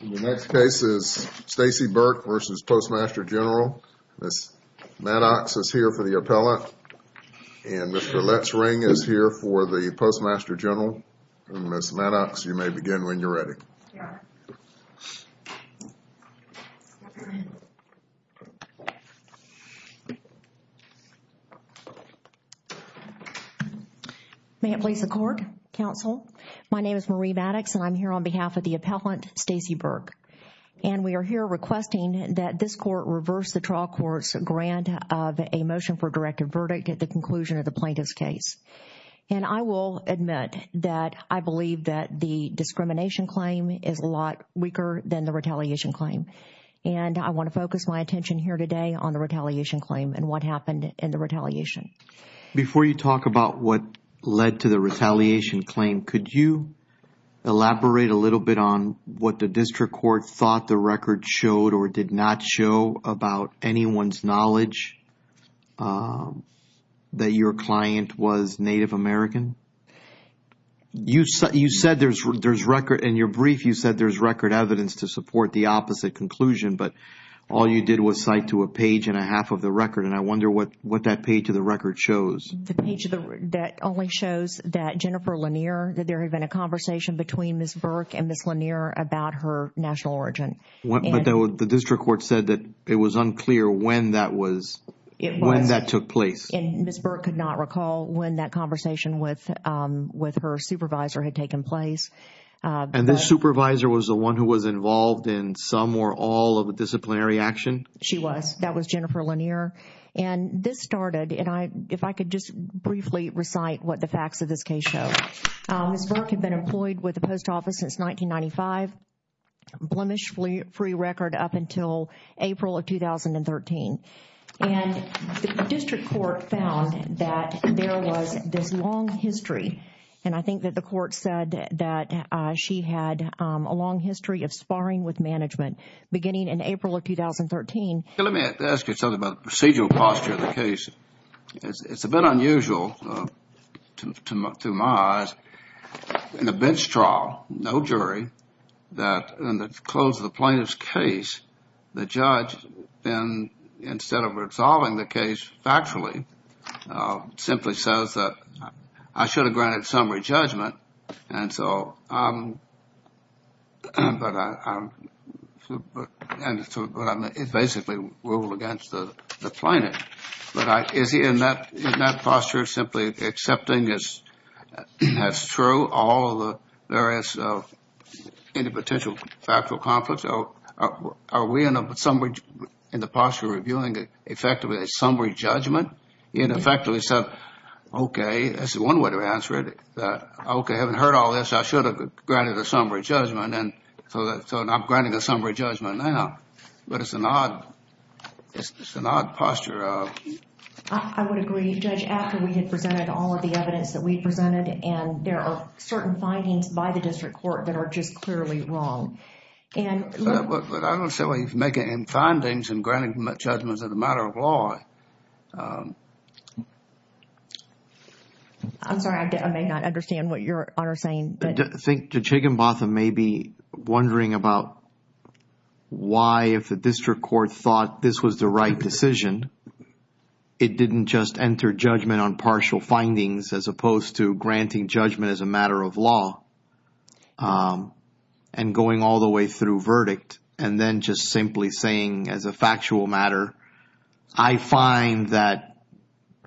The next case is Stacey Burke v. Postmaster General. Ms. Maddox is here for the appellate and Mr. Letts Ring is here for the Postmaster General. Ms. Maddox, you may begin when you're ready. May it please the court, counsel. My name is Marie Maddox and I'm here on behalf of the appellant Stacey Burke. And we are here requesting that this court reverse the trial court's grant of a motion for a directed verdict at the conclusion of the plaintiff's case. And I will admit that I believe that the discrimination claim is a lot weaker than the retaliation claim. And I want to focus my attention here today on the retaliation claim and what happened in the retaliation. Before you talk about what led to the retaliation claim, could you elaborate a little bit on what the district court thought the record showed or did not show about anyone's knowledge that your client was Native American? In your brief, you said there's record evidence to support the opposite conclusion, but all you did was cite to a page and a half of the record. And I wonder what that page of the record shows. The page that only shows that Jennifer Lanier, that there had been a conversation between Ms. Burke and Ms. Lanier about her national origin. But the district court said that it was unclear when that was, when that took place. And Ms. Burke could not recall when that conversation with her supervisor had taken place. And this supervisor was the one who was involved in some or all of the disciplinary action? She was. That was Jennifer Lanier. And this started, if I could just briefly recite what the facts of this case show. Ms. Burke had been employed with the post office since 1995, blemish-free record up until April of 2013. And the district court found that there was this long history, and I think that the court said that she had a long history of sparring with management beginning in April of 2013. Let me ask you something about the procedural posture of the case. It's a bit unusual to my eyes. In the bench trial, no jury, that in the close of the plaintiff's case, the judge, instead of resolving the case factually, simply says that I should have granted summary rule against the plaintiff. But is he, in that posture, simply accepting as true all of the various, any potential factual conflicts? Are we, in the posture of reviewing, effectively a summary judgment? In effect, we said, okay, this is one way to answer it. Okay, I haven't heard all this. I should have granted a summary judgment. And so I'm granting a summary judgment right now. But it's an odd posture of... I would agree, Judge, after we had presented all of the evidence that we presented, and there are certain findings by the district court that are just clearly wrong. But I don't see why he's making findings and granting judgments as a matter of law. I'm sorry, I may not understand what you're, Honor, saying, but... I think Judge Higginbotham may be wondering about why, if the district court thought this was the right decision, it didn't just enter judgment on partial findings, as opposed to granting judgment as a matter of law, and going all the way through verdict, and then just simply saying, as a factual matter, I find that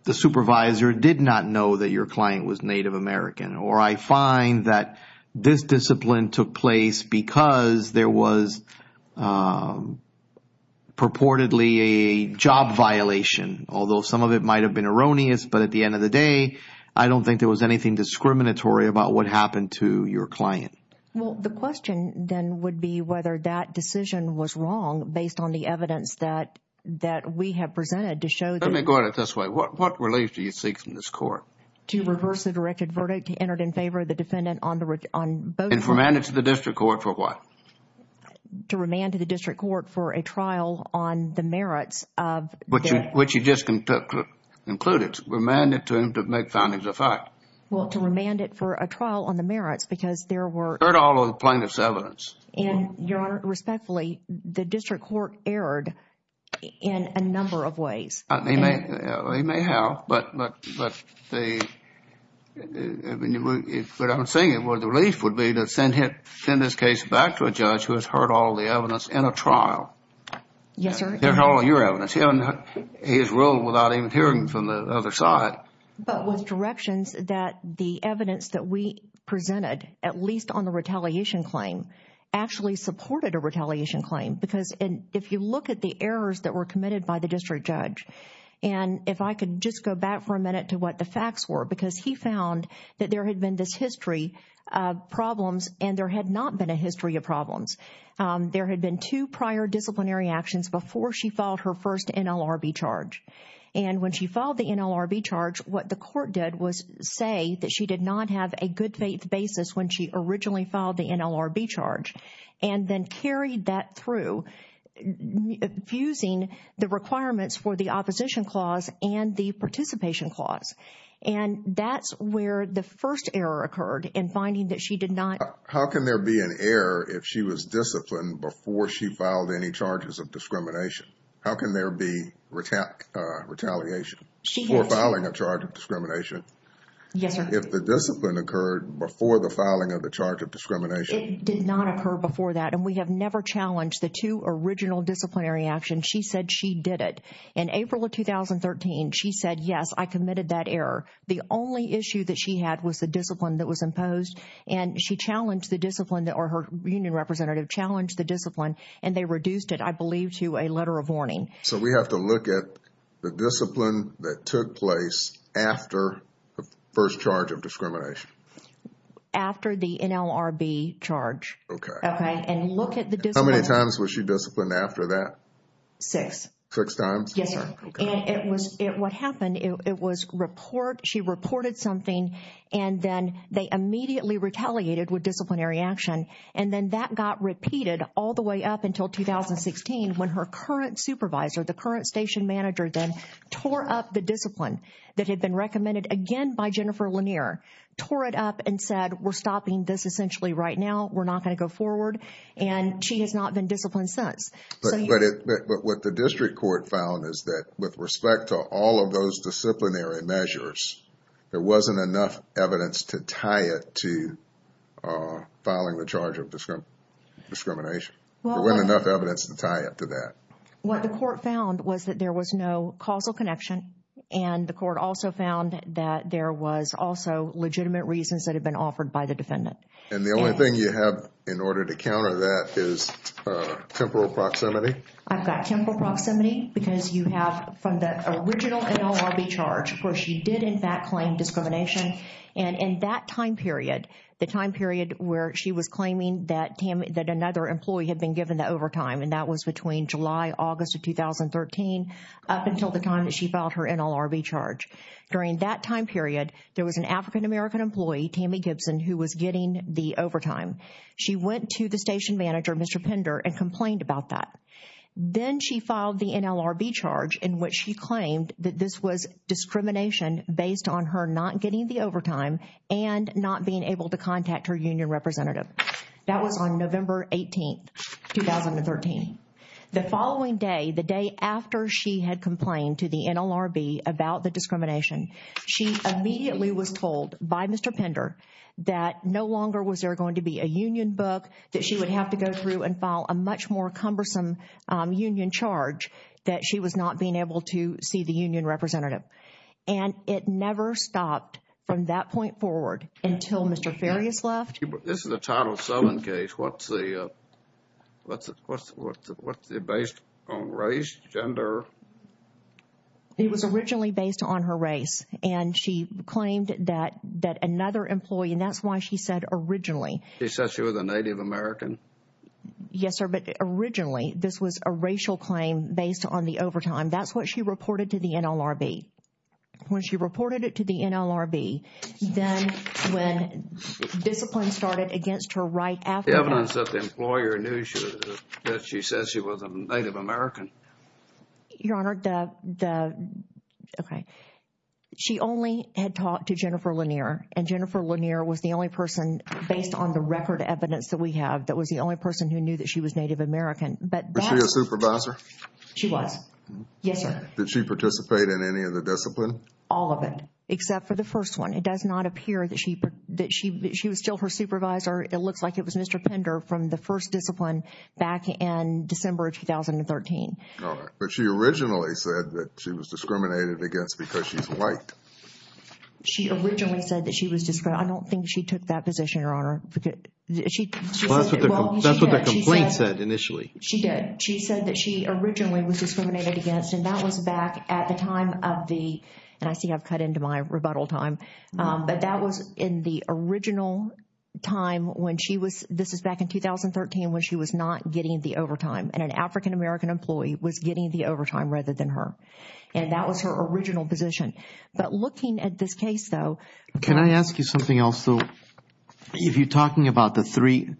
the supervisor did not know that your client was Native American, or I find that this discipline took place because there was purportedly a job violation. Although some of it might have been erroneous, but at the end of the day, I don't think there was anything discriminatory about what happened to your client. The question then would be whether that decision was wrong based on the evidence that we have presented to show... Let me go at it this way. What relief do you seek from this court? To reverse the directed verdict to enter it in favor of the defendant on both... And remand it to the district court for what? To remand to the district court for a trial on the merits of... Which you just concluded. Remand it to him to make findings of fact. Well, to remand it for a trial on the merits, because there were... Heard all of the plaintiff's evidence. And, Your Honor, respectfully, the district court erred in a number of ways. They may have, but I'm saying what the relief would be to send his case back to a judge who has heard all of the evidence in a trial. Yes, sir. Heard all of your evidence. He has ruled without even hearing from the other side. But with directions that the evidence that we presented, at least on the retaliation claim, actually supported a retaliation claim. Because if you look at the errors that were And if I could just go back for a minute to what the facts were. Because he found that there had been this history of problems and there had not been a history of problems. There had been two prior disciplinary actions before she filed her first NLRB charge. And when she filed the NLRB charge, what the court did was say that she did not have a good faith basis when she originally filed the NLRB charge. And then carried that through, fusing the requirements for the opposition clause and the participation clause. And that's where the first error occurred in finding that she did not How can there be an error if she was disciplined before she filed any charges of discrimination? How can there be retaliation? She has. For filing a charge of discrimination? Yes, sir. If the discipline occurred before the filing of the charge of discrimination? It did not occur before that. And we have never challenged the two original disciplinary actions. She said she did it. In April of 2013, she said, yes, I committed that error. The only issue that she had was the discipline that was imposed. And she challenged the discipline or her union representative challenged the discipline and they reduced it, I believe, to a letter of warning. So we have to look at the discipline that took place after the first charge of discrimination? After the NLRB charge. Okay. And look at the discipline. How many times was she disciplined after that? Six. Six times? Yes, sir. And it was, what happened, it was report, she reported something and then they immediately retaliated with disciplinary action. And then that got repeated all the way up until 2016 when her current supervisor, the current station manager then tore up the discipline that had been recommended again by Jennifer Lanier, tore it up and said, we're stopping this essentially right now. We're not going to go forward. And she has not been disciplined since. But what the district court found is that with respect to all of those disciplinary measures, there wasn't enough evidence to tie it to filing the charge of discrimination? There wasn't enough evidence to tie it to that? What the court found was that there was no causal connection. And the court also found that there was also legitimate reasons that had been offered by the defendant. And the only thing you have in order to counter that is temporal proximity? I've got temporal proximity because you have from the original NLRB charge where she did in fact claim discrimination. And in that time period, the time period where she was claiming that another employee had been given the overtime and that was between July, August of 2013 up until the time that she filed her NLRB charge. During that time period, there was an African-American employee, Tammy Gibson, who was getting the overtime. She went to the station manager, Mr. Pender, and complained about that. Then she filed the NLRB charge in which she claimed that this was discrimination based on her not getting the overtime and not being able to contact her union representative. That was on November 18, 2013. The following day, the day after she had complained to the NLRB about the discrimination, she immediately was told by Mr. Pender that no longer was there going to be a union book that she would have to go through and file a much more cumbersome union charge that she was not being able to see the union representative. And it never stopped from that point forward until Mr. Farias left. This is a Title VII case. What's the based on race, gender? It was originally based on her race. And she claimed that another employee, and that's why she said originally. She said she was a Native American? Yes, sir. But originally, this was a racial claim based on the overtime. That's what she reported to the NLRB. When she reported it to the NLRB, then when discipline started against her right after that. The evidence that the employer knew that she said she was a Native American? Your Honor, the, okay. She only had talked to Jennifer Lanier. And Jennifer Lanier was the only person, based on the record evidence that we have, that was the only person who knew that she was Native American. Was she a supervisor? She was. Yes, sir. Did she participate in any of the discipline? All of it. Except for the first one. It does not appear that she was still her supervisor. It looks like it was Mr. Pender from the first discipline back in December of 2013. But she originally said that she was discriminated against because she's white. She originally said that she was, I don't think she took that position, Your Honor. That's what the complaint said initially. She did. She said that she originally was discriminated against. And that was back at the time of the, and I see I've cut into my rebuttal time. But that was in the original time when she was, this is back in 2013 when she was not getting the overtime. And an African American employee was getting the overtime rather than her. And that was her original position. But looking at this case, though. Can I ask you something else, though? If you're talking about the three,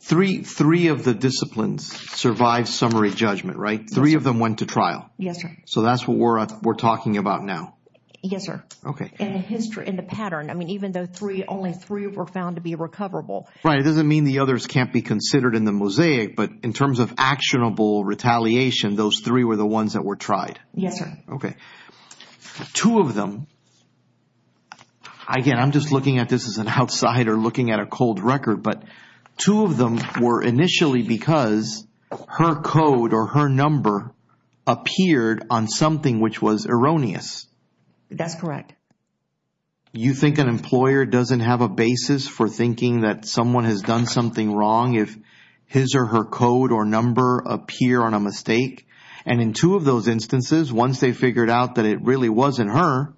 three of the disciplines survived summary judgment, right? Three of them went to trial. Yes, sir. So that's what we're talking about now. Yes, sir. Okay. In the history, in the pattern. I mean, even though three, only three were found to be recoverable. Right. It doesn't mean the others can't be considered in the mosaic. But in terms of actionable retaliation, those three were the ones that were tried. Yes, sir. Okay. Two of them, again, I'm just looking at this as an outsider looking at a cold record. But two of them were initially because her code or her number appeared on something which was erroneous. That's correct. You think an employer doesn't have a basis for thinking that someone has done something wrong if his or her code or number appear on a mistake? And in two of those instances, once they figured out that it really wasn't her,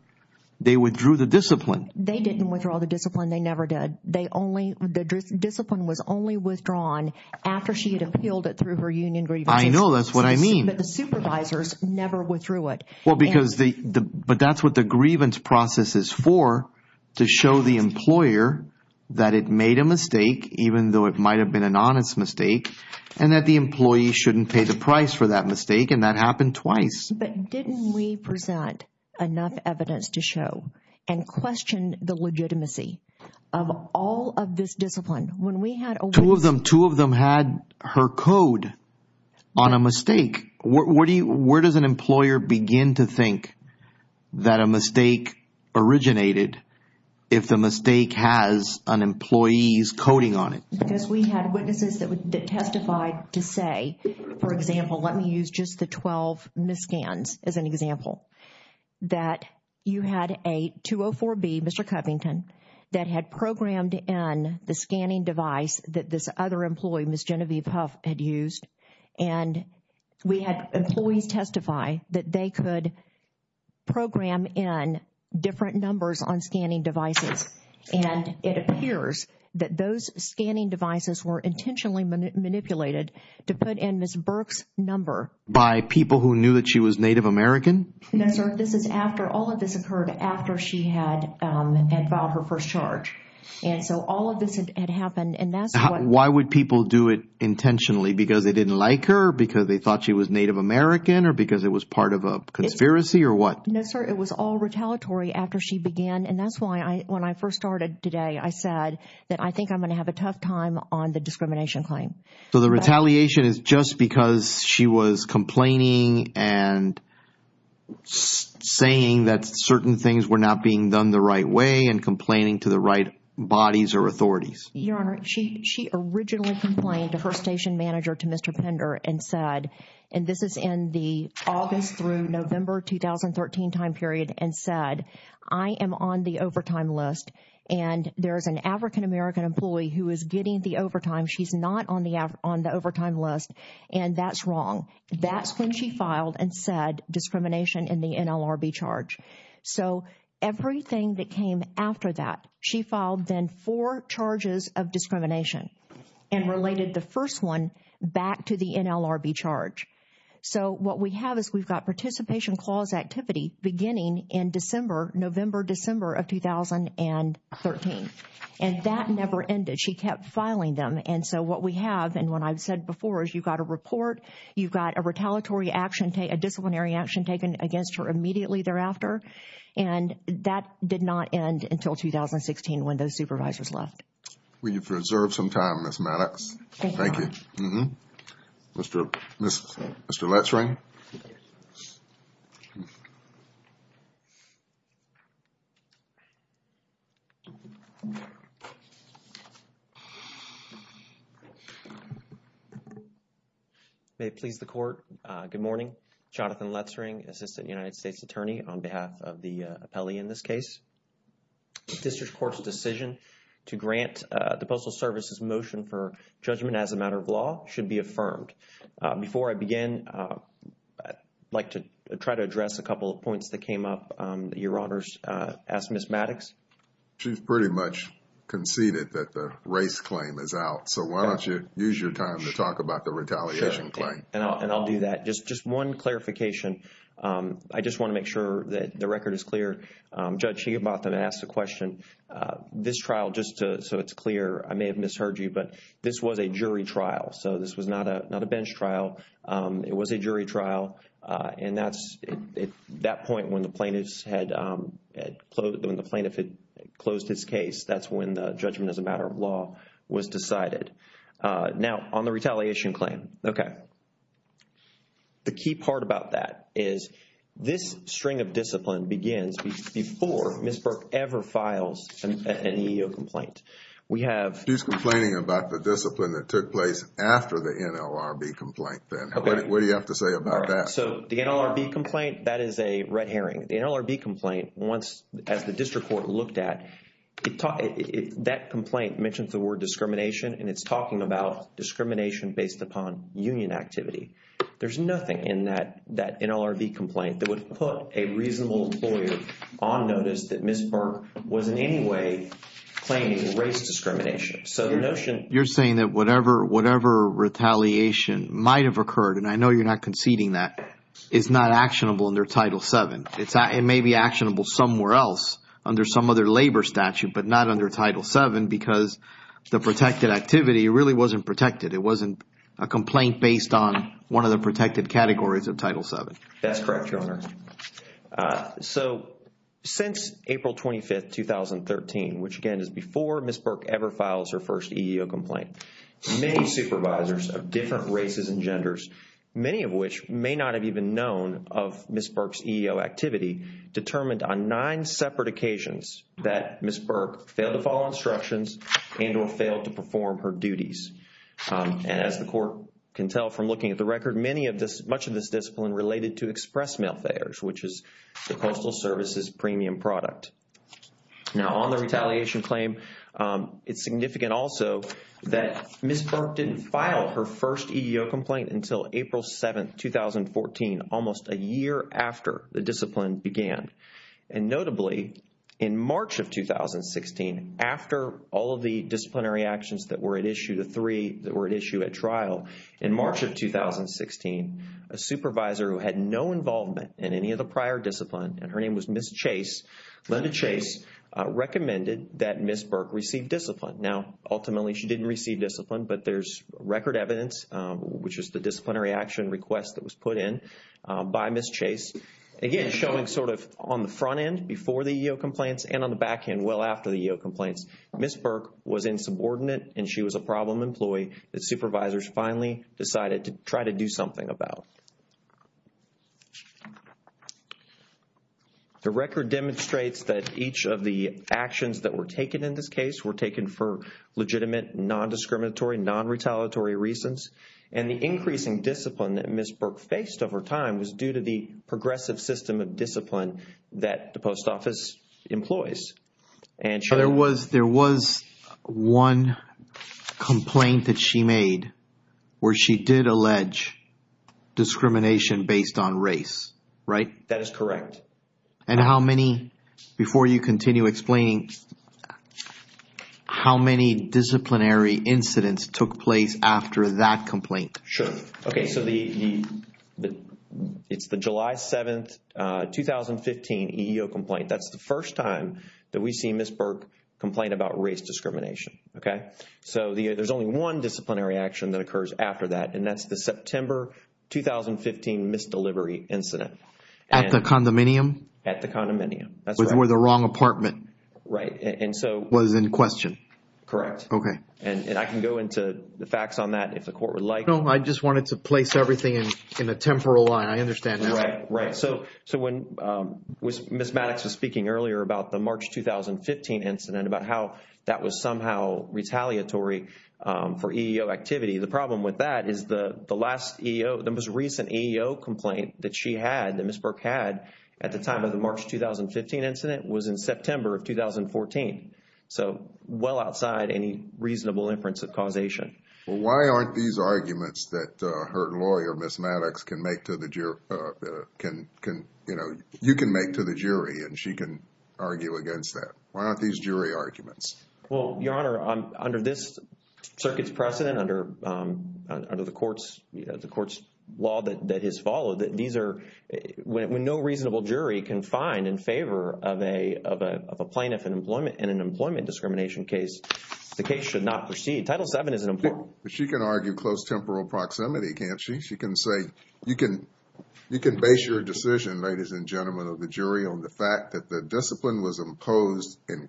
they withdrew the discipline. They didn't withdraw the discipline. They never did. They only, the discipline was only withdrawn after she had appealed it through her union grievances. I know. That's what I mean. But the supervisors never withdrew it. Well, because the, but that's what the grievance process is for, to show the employer that it made a mistake, even though it might have been an honest mistake, and that the employee shouldn't pay the price for that mistake, and that happened twice. But didn't we present enough evidence to show and question the legitimacy of all of this discipline when we had a witness? Two of them, two of them had her code on a mistake. Where do you, where does an employer begin to think that a mistake originated if the mistake has an employee's coding on it? Because we had witnesses that testified to say, for example, let me use just the 12 miscans as an example. That you had a 204B, Mr. Covington, that had programmed in the scanning device that this other employee, Ms. Genevieve Huff, had used. And we had employees testify that they could program in different numbers on scanning devices. And it appears that those scanning devices were intentionally manipulated to put in Ms. Burke's number. By people who knew that she was Native American? No, sir. This is after, all of this occurred after she had, had filed her first charge. And so all of this had happened, and that's what... Why would people do it intentionally? Because they didn't like her? Because they thought she was Native American? Or because it was part of a conspiracy, or what? No, sir. It was all retaliatory after she began. And that's why I, when I first started today, I said that I think I'm going to have a tough time on the discrimination claim. So the retaliation is just because she was complaining and saying that certain things were not being done the right way, and complaining to the right bodies or authorities? Your Honor, she, she originally complained to her station manager, to Mr. Pender, and said, and this is in the August through November 2013 time period, and said, I am on the overtime list, and there is an African American employee who is getting the overtime. She's not on the, on the overtime list. And that's wrong. That's when she filed and said discrimination in the NLRB charge. So everything that came after that, she filed then four charges of discrimination, and related the first one back to the NLRB charge. So what we have is we've got participation clause activity beginning in December, November, December of 2013. And that never ended. She kept filing them. And so what we have, and what I've said before, is you've got a report, you've got a retaliatory action, a disciplinary action taken against her immediately thereafter, and that did not end until 2016 when those supervisors left. We've reserved some time, Ms. Maddox. Thank you. Mr. Letzring. May it please the court, good morning. Jonathan Letzring, Assistant United States Attorney on behalf of the appellee in this case. District Court's decision to grant the Postal Service's motion for judgment as a matter of law should be affirmed. Before I begin, I'd like to try to address a couple of points that came up. Your Honors, ask Ms. Maddox. She's pretty much conceded that the race claim is out. So why don't you use your time to talk about the retaliation claim. And I'll do that. Just one clarification. I just want to make sure that the record is clear. Judge Higubata asked a question. This trial, just so it's clear, I may have misheard you, but this was a jury trial. So this was not a bench trial. It was a jury trial. And that's at that point when the plaintiff had closed his case. That's when the judgment as a matter of law was decided. Now, on the retaliation claim, okay. The key part about that is this string of discipline begins before Ms. Burke ever files an EEO complaint. We have... She's complaining about the discipline that took place after the NLRB complaint then. What do you have to say about that? So the NLRB complaint, that is a red herring. The NLRB complaint, as the District Court looked at, that complaint mentions the word discrimination and it's talking about discrimination based upon union activity. There's nothing in that NLRB complaint that would put a reasonable employer on notice that Ms. Burke was in any way claiming race discrimination. So the notion... You're saying that whatever retaliation might have occurred, and I know you're not conceding that, is not actionable under Title VII. It may be actionable somewhere else under some other labor statute, but not under Title VII because the protected activity really wasn't protected. It wasn't a complaint based on one of the protected categories of Title VII. That's correct, Your Honor. So since April 25, 2013, which again is before Ms. Burke ever files her first EEO complaint, many supervisors of different races and genders, many of which may not have even known of Ms. Burke's EEO activity, determined on nine separate occasions that Ms. Burke failed to follow instructions and or failed to perform her duties. And as the Court can tell from looking at the record, much of this discipline related to express mail fares, which is the Coastal Service's premium product. Now on the retaliation claim, it's significant also that Ms. Burke didn't file her first EEO complaint until April 7, 2014, almost a year after the discipline began. And notably, in March of 2016, after all of the disciplinary actions that were at issue, the three that were at issue at trial, in March of 2016, a supervisor who had no involvement in any of the prior discipline, and her name was Ms. Chase, Linda Chase, recommended that Ms. Burke receive discipline. Now, ultimately, she didn't receive discipline, but there's record evidence, which is the disciplinary action request that was put in by Ms. Chase. Again, showing sort of on the front end before the EEO complaints and on the back end well after the EEO complaints, Ms. Burke was insubordinate and she was a problem employee that supervisors finally decided to try to do something about. The record demonstrates that each of the actions that were taken in this case were taken for legitimate, non-discriminatory, non-retaliatory reasons. And the increasing discipline that Ms. Burke faced over time was due to the progressive system of discipline that the post office employs. There was one complaint that she made where she did allege discrimination based on race, right? That is correct. And how many, before you continue explaining, how many disciplinary incidents took place after that complaint? Sure. Okay, so it's the July 7th, 2015 EEO complaint. That's the first time that we see Ms. Burke complain about race discrimination, okay? So there's only one disciplinary action that occurs after that, and that's the September 2015 misdelivery incident. At the condominium? At the condominium, that's right. Which were the wrong apartment. Right, and so. Was in question. Correct. Okay. And I can go into the facts on that if the court would like. No, I just wanted to place everything in a temporal line. I understand that. Right, right. So when Ms. Maddox was speaking earlier about the March 2015 incident, about how that was somehow retaliatory for EEO activity, the problem with that is the last EEO, the most recent EEO complaint that she had, that Ms. Burke had, at the time of the March 2015 incident was in September of 2014. So well outside any reasonable inference of causation. Well, why aren't these arguments that her lawyer, Ms. Maddox, can make to the jury, can, you know, you can make to the jury and she can argue against that? Why aren't these jury arguments? Well, Your Honor, under this circuit's precedent, under the court's law that has followed, these are, when no reasonable jury can find in favor of a plaintiff in an employment discrimination case, the case should not proceed. Title VII is an employment. But she can argue close temporal proximity, can't she? She can say, you can base your decision, ladies and gentlemen of the jury, on the fact that the discipline was imposed in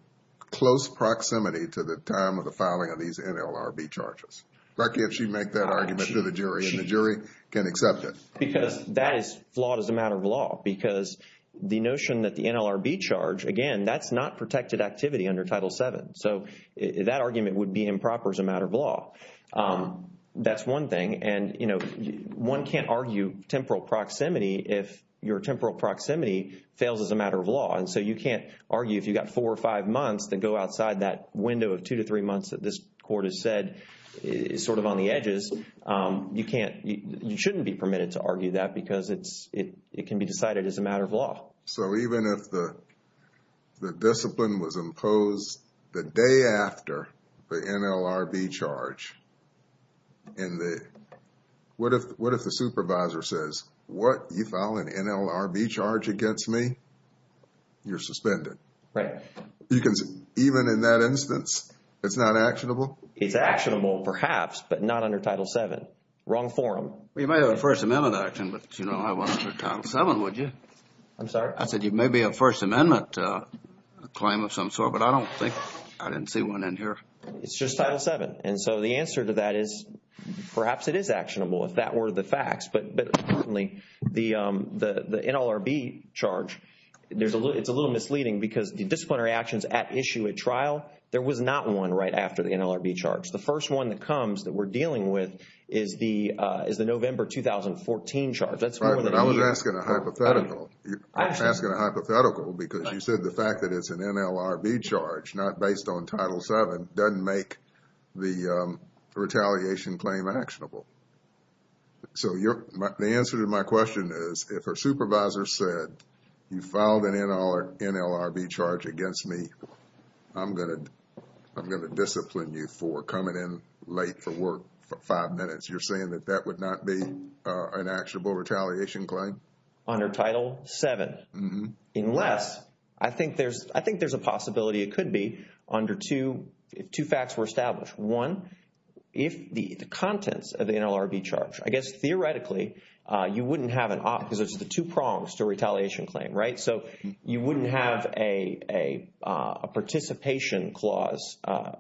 close proximity to the time of the filing of these NLRB charges. Lucky if she'd make that argument to the jury and the jury can accept it. Because that is flawed as a matter of law. Because the notion that the NLRB charge, again, that's not protected activity under Title VII. So that argument would be improper as a matter of law. That's one thing. And, you know, one can't argue temporal proximity if your temporal proximity fails as a matter of law. And so you can't argue if you've got four or five months that go outside that window of two to three months that this court has said is sort of on the edges. You can't, you shouldn't be permitted to argue that because it can be decided as a matter of law. So even if the discipline was imposed the day after the NLRB charge, what if the supervisor says, what, you file an NLRB charge against me? You're suspended. Right. Even in that instance, it's not actionable? It's actionable, perhaps, but not under Title VII. Wrong forum. Well, you might have a First Amendment action, but you don't have one under Title VII, would you? I'm sorry? I said you may be a First Amendment claim of some sort, but I don't think I didn't see one in here. It's just Title VII. And so the answer to that is perhaps it is actionable if that were the facts. But certainly the NLRB charge, it's a little misleading because the disciplinary actions at issue at trial, there was not one right after the NLRB charge. The first one that comes that we're dealing with is the November 2014 charge. I was asking a hypothetical. I'm asking a hypothetical because you said the fact that it's an NLRB charge not based on Title VII doesn't make the retaliation claim actionable. So the answer to my question is if a supervisor said you filed an NLRB charge against me, I'm going to discipline you for coming in late for work for five minutes. You're saying that that would not be an actionable retaliation claim? Under Title VII. Unless, I think there's a possibility it could be under two facts were established. One, if the contents of the NLRB charge, I guess theoretically you wouldn't have an op, because it's the two prongs to a retaliation claim, right? So you wouldn't have a participation clause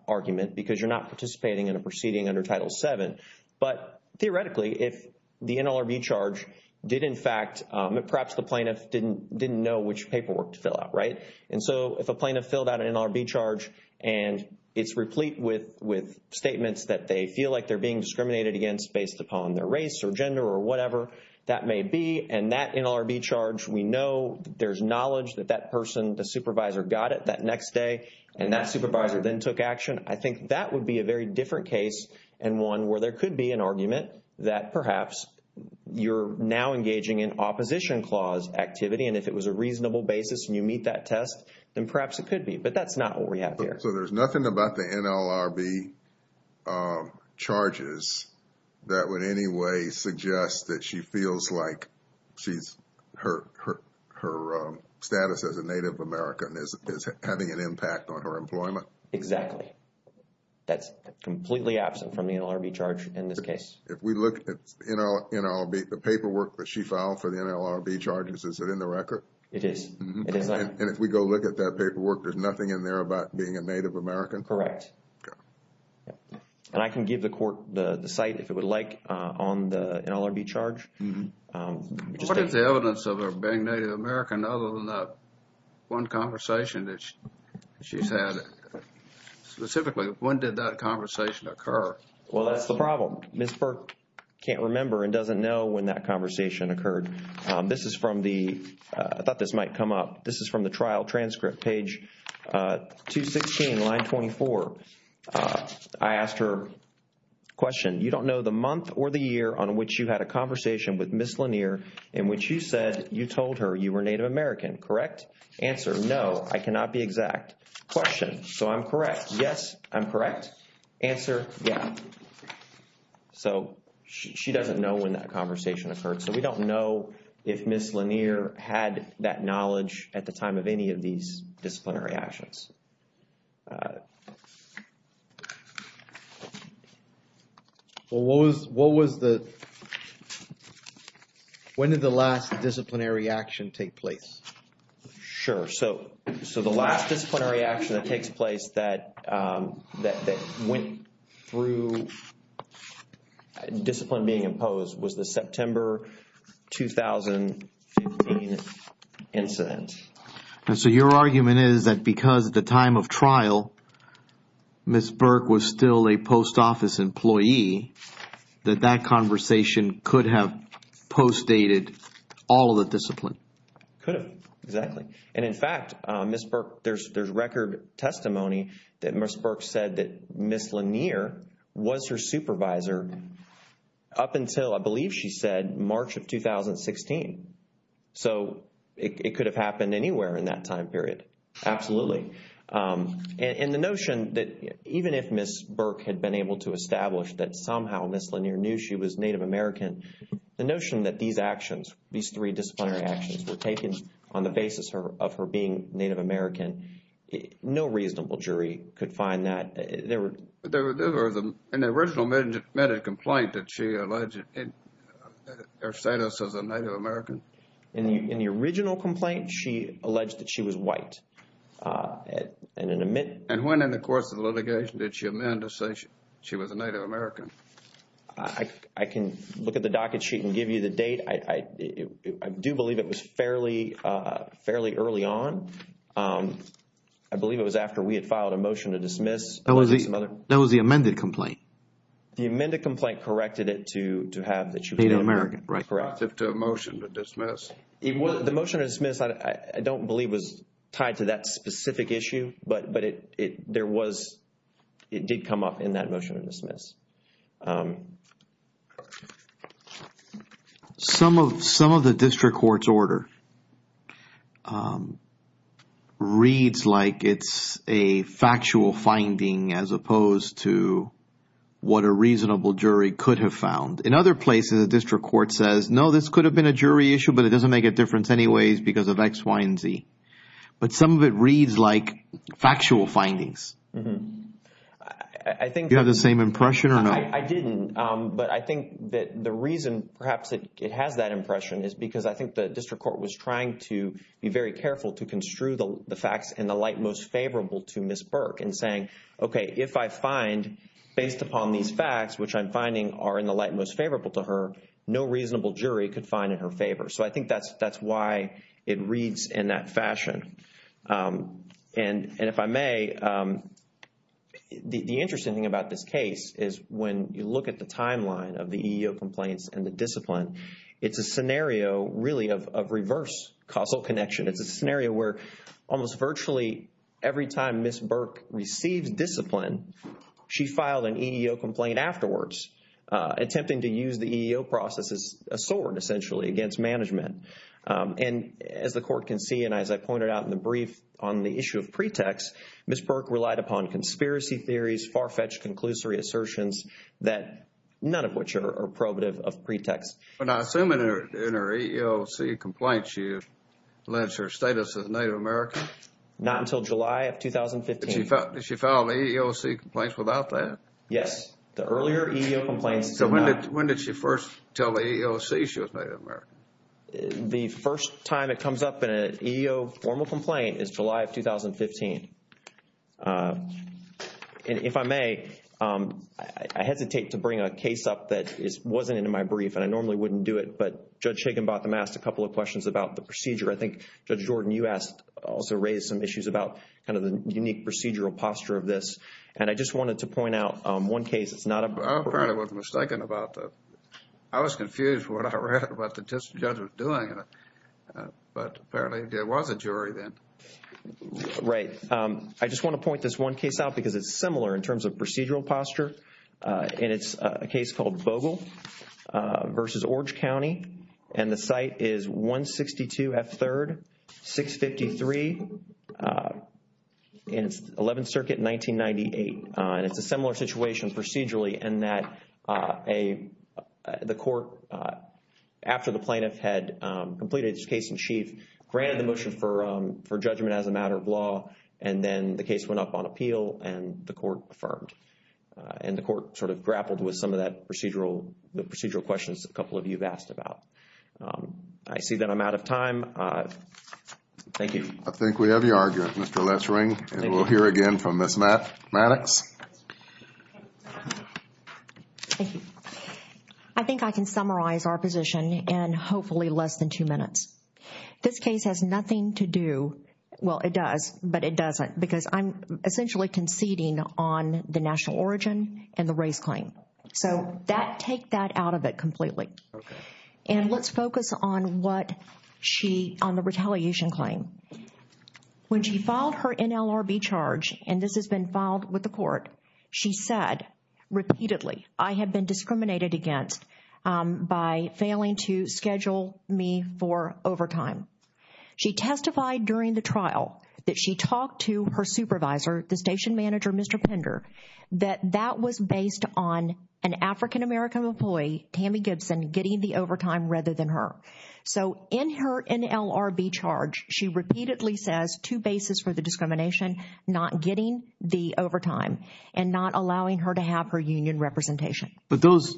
argument because you're not participating in a proceeding under Title VII. But theoretically, if the NLRB charge did, in fact, perhaps the plaintiff didn't know which paperwork to fill out, right? And so if a plaintiff filled out an NLRB charge and it's replete with statements that they feel like they're being discriminated against based upon their race or gender or whatever that may be, and that NLRB charge, we know there's knowledge that that person, the supervisor, got it that next day, and that supervisor then took action, I think that would be a very different case and one where there could be an argument that perhaps you're now engaging in opposition clause activity. And if it was a reasonable basis and you meet that test, then perhaps it could be. But that's not what we have here. So there's nothing about the NLRB charges that would in any way suggest that she feels like her status as a Native American is having an impact on her employment? Exactly. That's completely absent from the NLRB charge in this case. If we look at NLRB, the paperwork that she filed for the NLRB charges, is it in the record? It is. And if we go look at that paperwork, there's nothing in there about being a Native American? Correct. Okay. And I can give the court the site if it would like on the NLRB charge. What is the evidence of her being Native American other than that one conversation that she's had? Specifically, when did that conversation occur? Well, that's the problem. Ms. Burke can't remember and doesn't know when that conversation occurred. This is from the, I thought this might come up, this is from the trial transcript, page 216, line 24. I asked her, question, you don't know the month or the year on which you had a conversation with Ms. Lanier in which you said you told her you were Native American, correct? Answer, no, I cannot be exact. Question, so I'm correct, yes, I'm correct. Answer, yeah. So, she doesn't know when that conversation occurred. So, we don't know if Ms. Lanier had that knowledge at the time of any of these disciplinary actions. Well, what was the, when did the last disciplinary action take place? Sure. So, the last disciplinary action that takes place that went through discipline being imposed was the September 2015 incident. And so, your argument is that because at the time of trial, Ms. Burke was still a post office employee, that that conversation could have post dated all of the discipline. Could have, exactly. And in fact, Ms. Burke, there's record testimony that Ms. Burke said that Ms. Lanier was her supervisor up until, I believe she said, March of 2016. So, it could have happened anywhere in that time period, absolutely. And the notion that even if Ms. Burke had been able to establish that somehow Ms. Lanier knew she was Native American, the notion that these actions, these three disciplinary actions were taken on the basis of her being Native American, no reasonable jury could find that. There was an original admitted complaint that she alleged her status as a Native American. In the original complaint, she alleged that she was white. And when in the course of the litigation did she amend to say she was a Native American? I can look at the docket sheet and give you the date. I do believe it was fairly early on. I believe it was after we had filed a motion to dismiss. That was the amended complaint. The amended complaint corrected it to have that she was Native American. Correct. To a motion to dismiss. The motion to dismiss, I don't believe was tied to that specific issue. Some of the district court's order reads like it's a factual finding as opposed to what a reasonable jury could have found. In other places, the district court says, no, this could have been a jury issue, but it doesn't make a difference anyways because of X, Y, and Z. But some of it reads like factual findings. Do you have the same impression or not? I didn't. But I think that the reason perhaps it has that impression is because I think the district court was trying to be very careful to construe the facts in the light most favorable to Ms. Burke and saying, okay, if I find based upon these facts, which I'm finding are in the light most favorable to her, no reasonable jury could find in her favor. So I think that's why it reads in that fashion. And if I may, the interesting thing about this case is when you look at the timeline of the EEO complaints and the discipline, it's a scenario really of reverse causal connection. It's a scenario where almost virtually every time Ms. Burke receives discipline, she filed an EEO complaint afterwards, attempting to use the EEO process as a sword essentially against management. And as the court can see, and as I pointed out in the brief on the issue of pretext, Ms. Burke relied upon conspiracy theories, far-fetched conclusory assertions that none of which are probative of pretext. But I assume in her EEOC complaint, she alleged her status as Native American? Not until July of 2015. Did she file an EEOC complaint without that? Yes. The earlier EEO complaints did not. So when did she first tell the EEOC she was Native American? The first time it comes up in an EEO formal complaint is July of 2015. And if I may, I hesitate to bring a case up that wasn't in my brief and I normally wouldn't do it, but Judge Higginbotham asked a couple of questions about the procedure. I think Judge Jordan, you asked, also raised some issues about kind of the unique procedural posture of this. And I just wanted to point out one case. I apparently was mistaken about that. I was confused when I read what the judge was doing, but apparently there was a jury then. Right. I just want to point this one case out because it's similar in terms of procedural posture, and it's a case called Vogel v. Orange County. And the site is 162 F. 3rd, 653, and it's 11th Circuit, 1998. And it's a similar situation procedurally in that the court, after the plaintiff had completed his case in chief, granted the motion for judgment as a matter of law, and then the case went up on appeal and the court affirmed. And the court sort of grappled with some of the procedural questions a couple of you have asked about. I see that I'm out of time. Thank you. I think we have your argument, Mr. Lessring. And we'll hear again from Ms. Maddox. Thank you. I think I can summarize our position in hopefully less than two minutes. This case has nothing to do, well, it does, but it doesn't, because I'm essentially conceding on the national origin and the race claim. So take that out of it completely. Okay. And let's focus on what she, on the retaliation claim. When she filed her NLRB charge, and this has been filed with the court, she said repeatedly, I have been discriminated against by failing to schedule me for overtime. She testified during the trial that she talked to her supervisor, the station manager, Mr. Pender, that that was based on an African-American employee, Tammy Gibson, getting the overtime rather than her. So in her NLRB charge, she repeatedly says two bases for the discrimination, not getting the overtime and not allowing her to have her union representation. But those,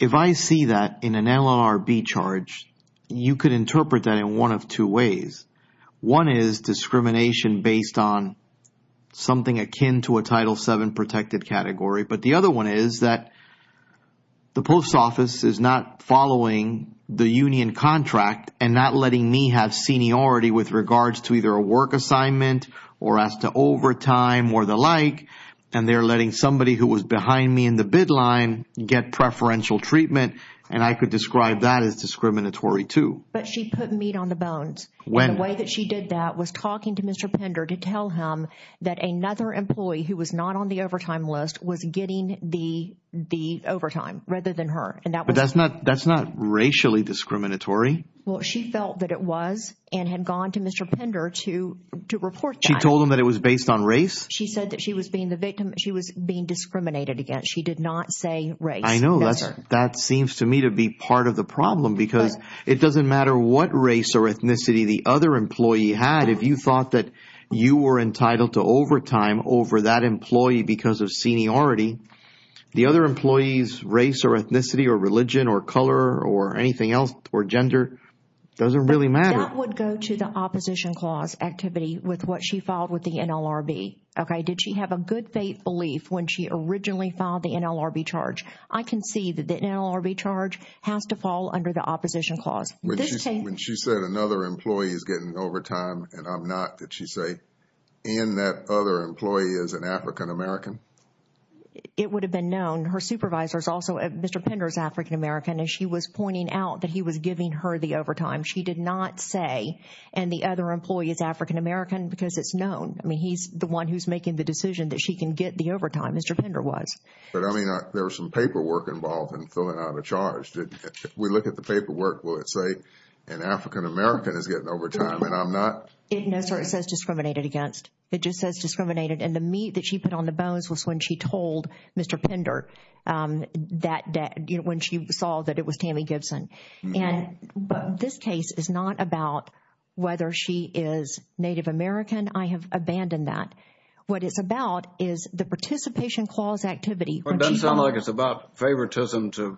if I see that in an NLRB charge, you could interpret that in one of two ways. One is discrimination based on something akin to a Title VII protected category, but the other one is that the post office is not following the union contract and not letting me have seniority with regards to either a work assignment or as to overtime or the like, and they're letting somebody who was behind me in the bid line get preferential treatment, and I could describe that as discriminatory too. But she put meat on the bones. And the way that she did that was talking to Mr. Pender to tell him that another employee who was not on the overtime list was getting the overtime rather than her. But that's not racially discriminatory. Well, she felt that it was and had gone to Mr. Pender to report that. She told him that it was based on race? She said that she was being discriminated against. She did not say race. I know. That seems to me to be part of the problem because it doesn't matter what race or ethnicity the other employee had. If you thought that you were entitled to overtime over that employee because of seniority, the other employee's race or ethnicity or religion or color or anything else or gender doesn't really matter. That would go to the opposition clause activity with what she filed with the NLRB. Did she have a good faith belief when she originally filed the NLRB charge? I can see that the NLRB charge has to fall under the opposition clause. When she said another employee is getting overtime and I'm not, did she say and that other employee is an African-American? It would have been known. Her supervisor is also Mr. Pender's African-American, and she was pointing out that he was giving her the overtime. She did not say and the other employee is African-American because it's known. I mean, he's the one who's making the decision that she can get the overtime. Mr. Pender was. But I mean, there was some paperwork involved in filling out a charge. If we look at the paperwork, will it say an African-American is getting overtime and I'm not? No, sir. It says discriminated against. It just says discriminated and the meat that she put on the bones was when she told Mr. Pender that when she saw that it was Tammy Gibson. But this case is not about whether she is Native American. I have abandoned that. What it's about is the participation clause activity. It doesn't sound like it's about favoritism to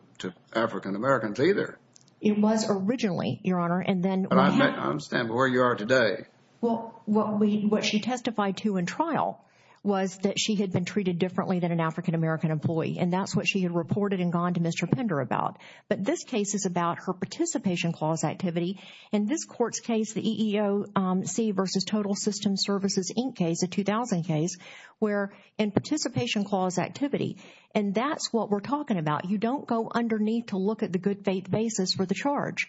African-Americans either. It was originally, Your Honor, and then. I understand where you are today. Well, what she testified to in trial was that she had been treated differently than an African-American employee, and that's what she had reported and gone to Mr. Pender about. But this case is about her participation clause activity. In this court's case, the EEOC versus Total Systems Services Inc. case, the 2000 case, where in participation clause activity, and that's what we're talking about. You don't go underneath to look at the good faith basis for the charge.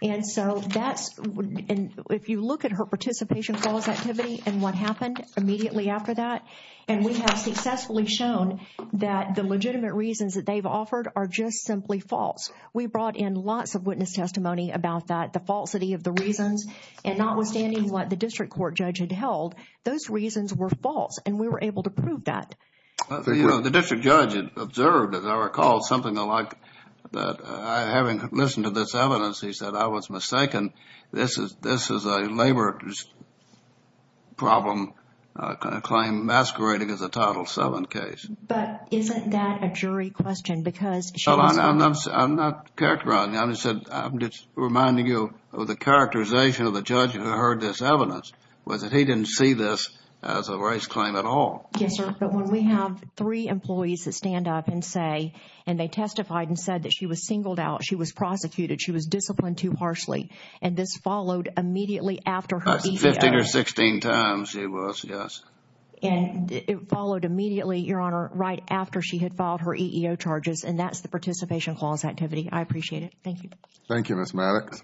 And so that's. And if you look at her participation clause activity and what happened immediately after that, and we have successfully shown that the legitimate reasons that they've offered are just simply false. We brought in lots of witness testimony about that, the falsity of the reasons, and notwithstanding what the district court judge had held, those reasons were false, and we were able to prove that. The district judge observed, as I recall, something like that. Having listened to this evidence, he said, I was mistaken. This is a labor problem claim masquerading as a Title VII case. But isn't that a jury question? I'm not characterizing it. I'm just reminding you of the characterization of the judge who heard this evidence, was that he didn't see this as a race claim at all. Yes, sir. But when we have three employees that stand up and say, and they testified and said that she was singled out, she was prosecuted, she was disciplined too harshly, and this followed immediately after her EEO. Fifteen or sixteen times it was, yes. And it followed immediately, Your Honor, right after she had filed her EEO charges, and that's the participation clause activity. I appreciate it. Thank you. Thank you, Ms. Maddox.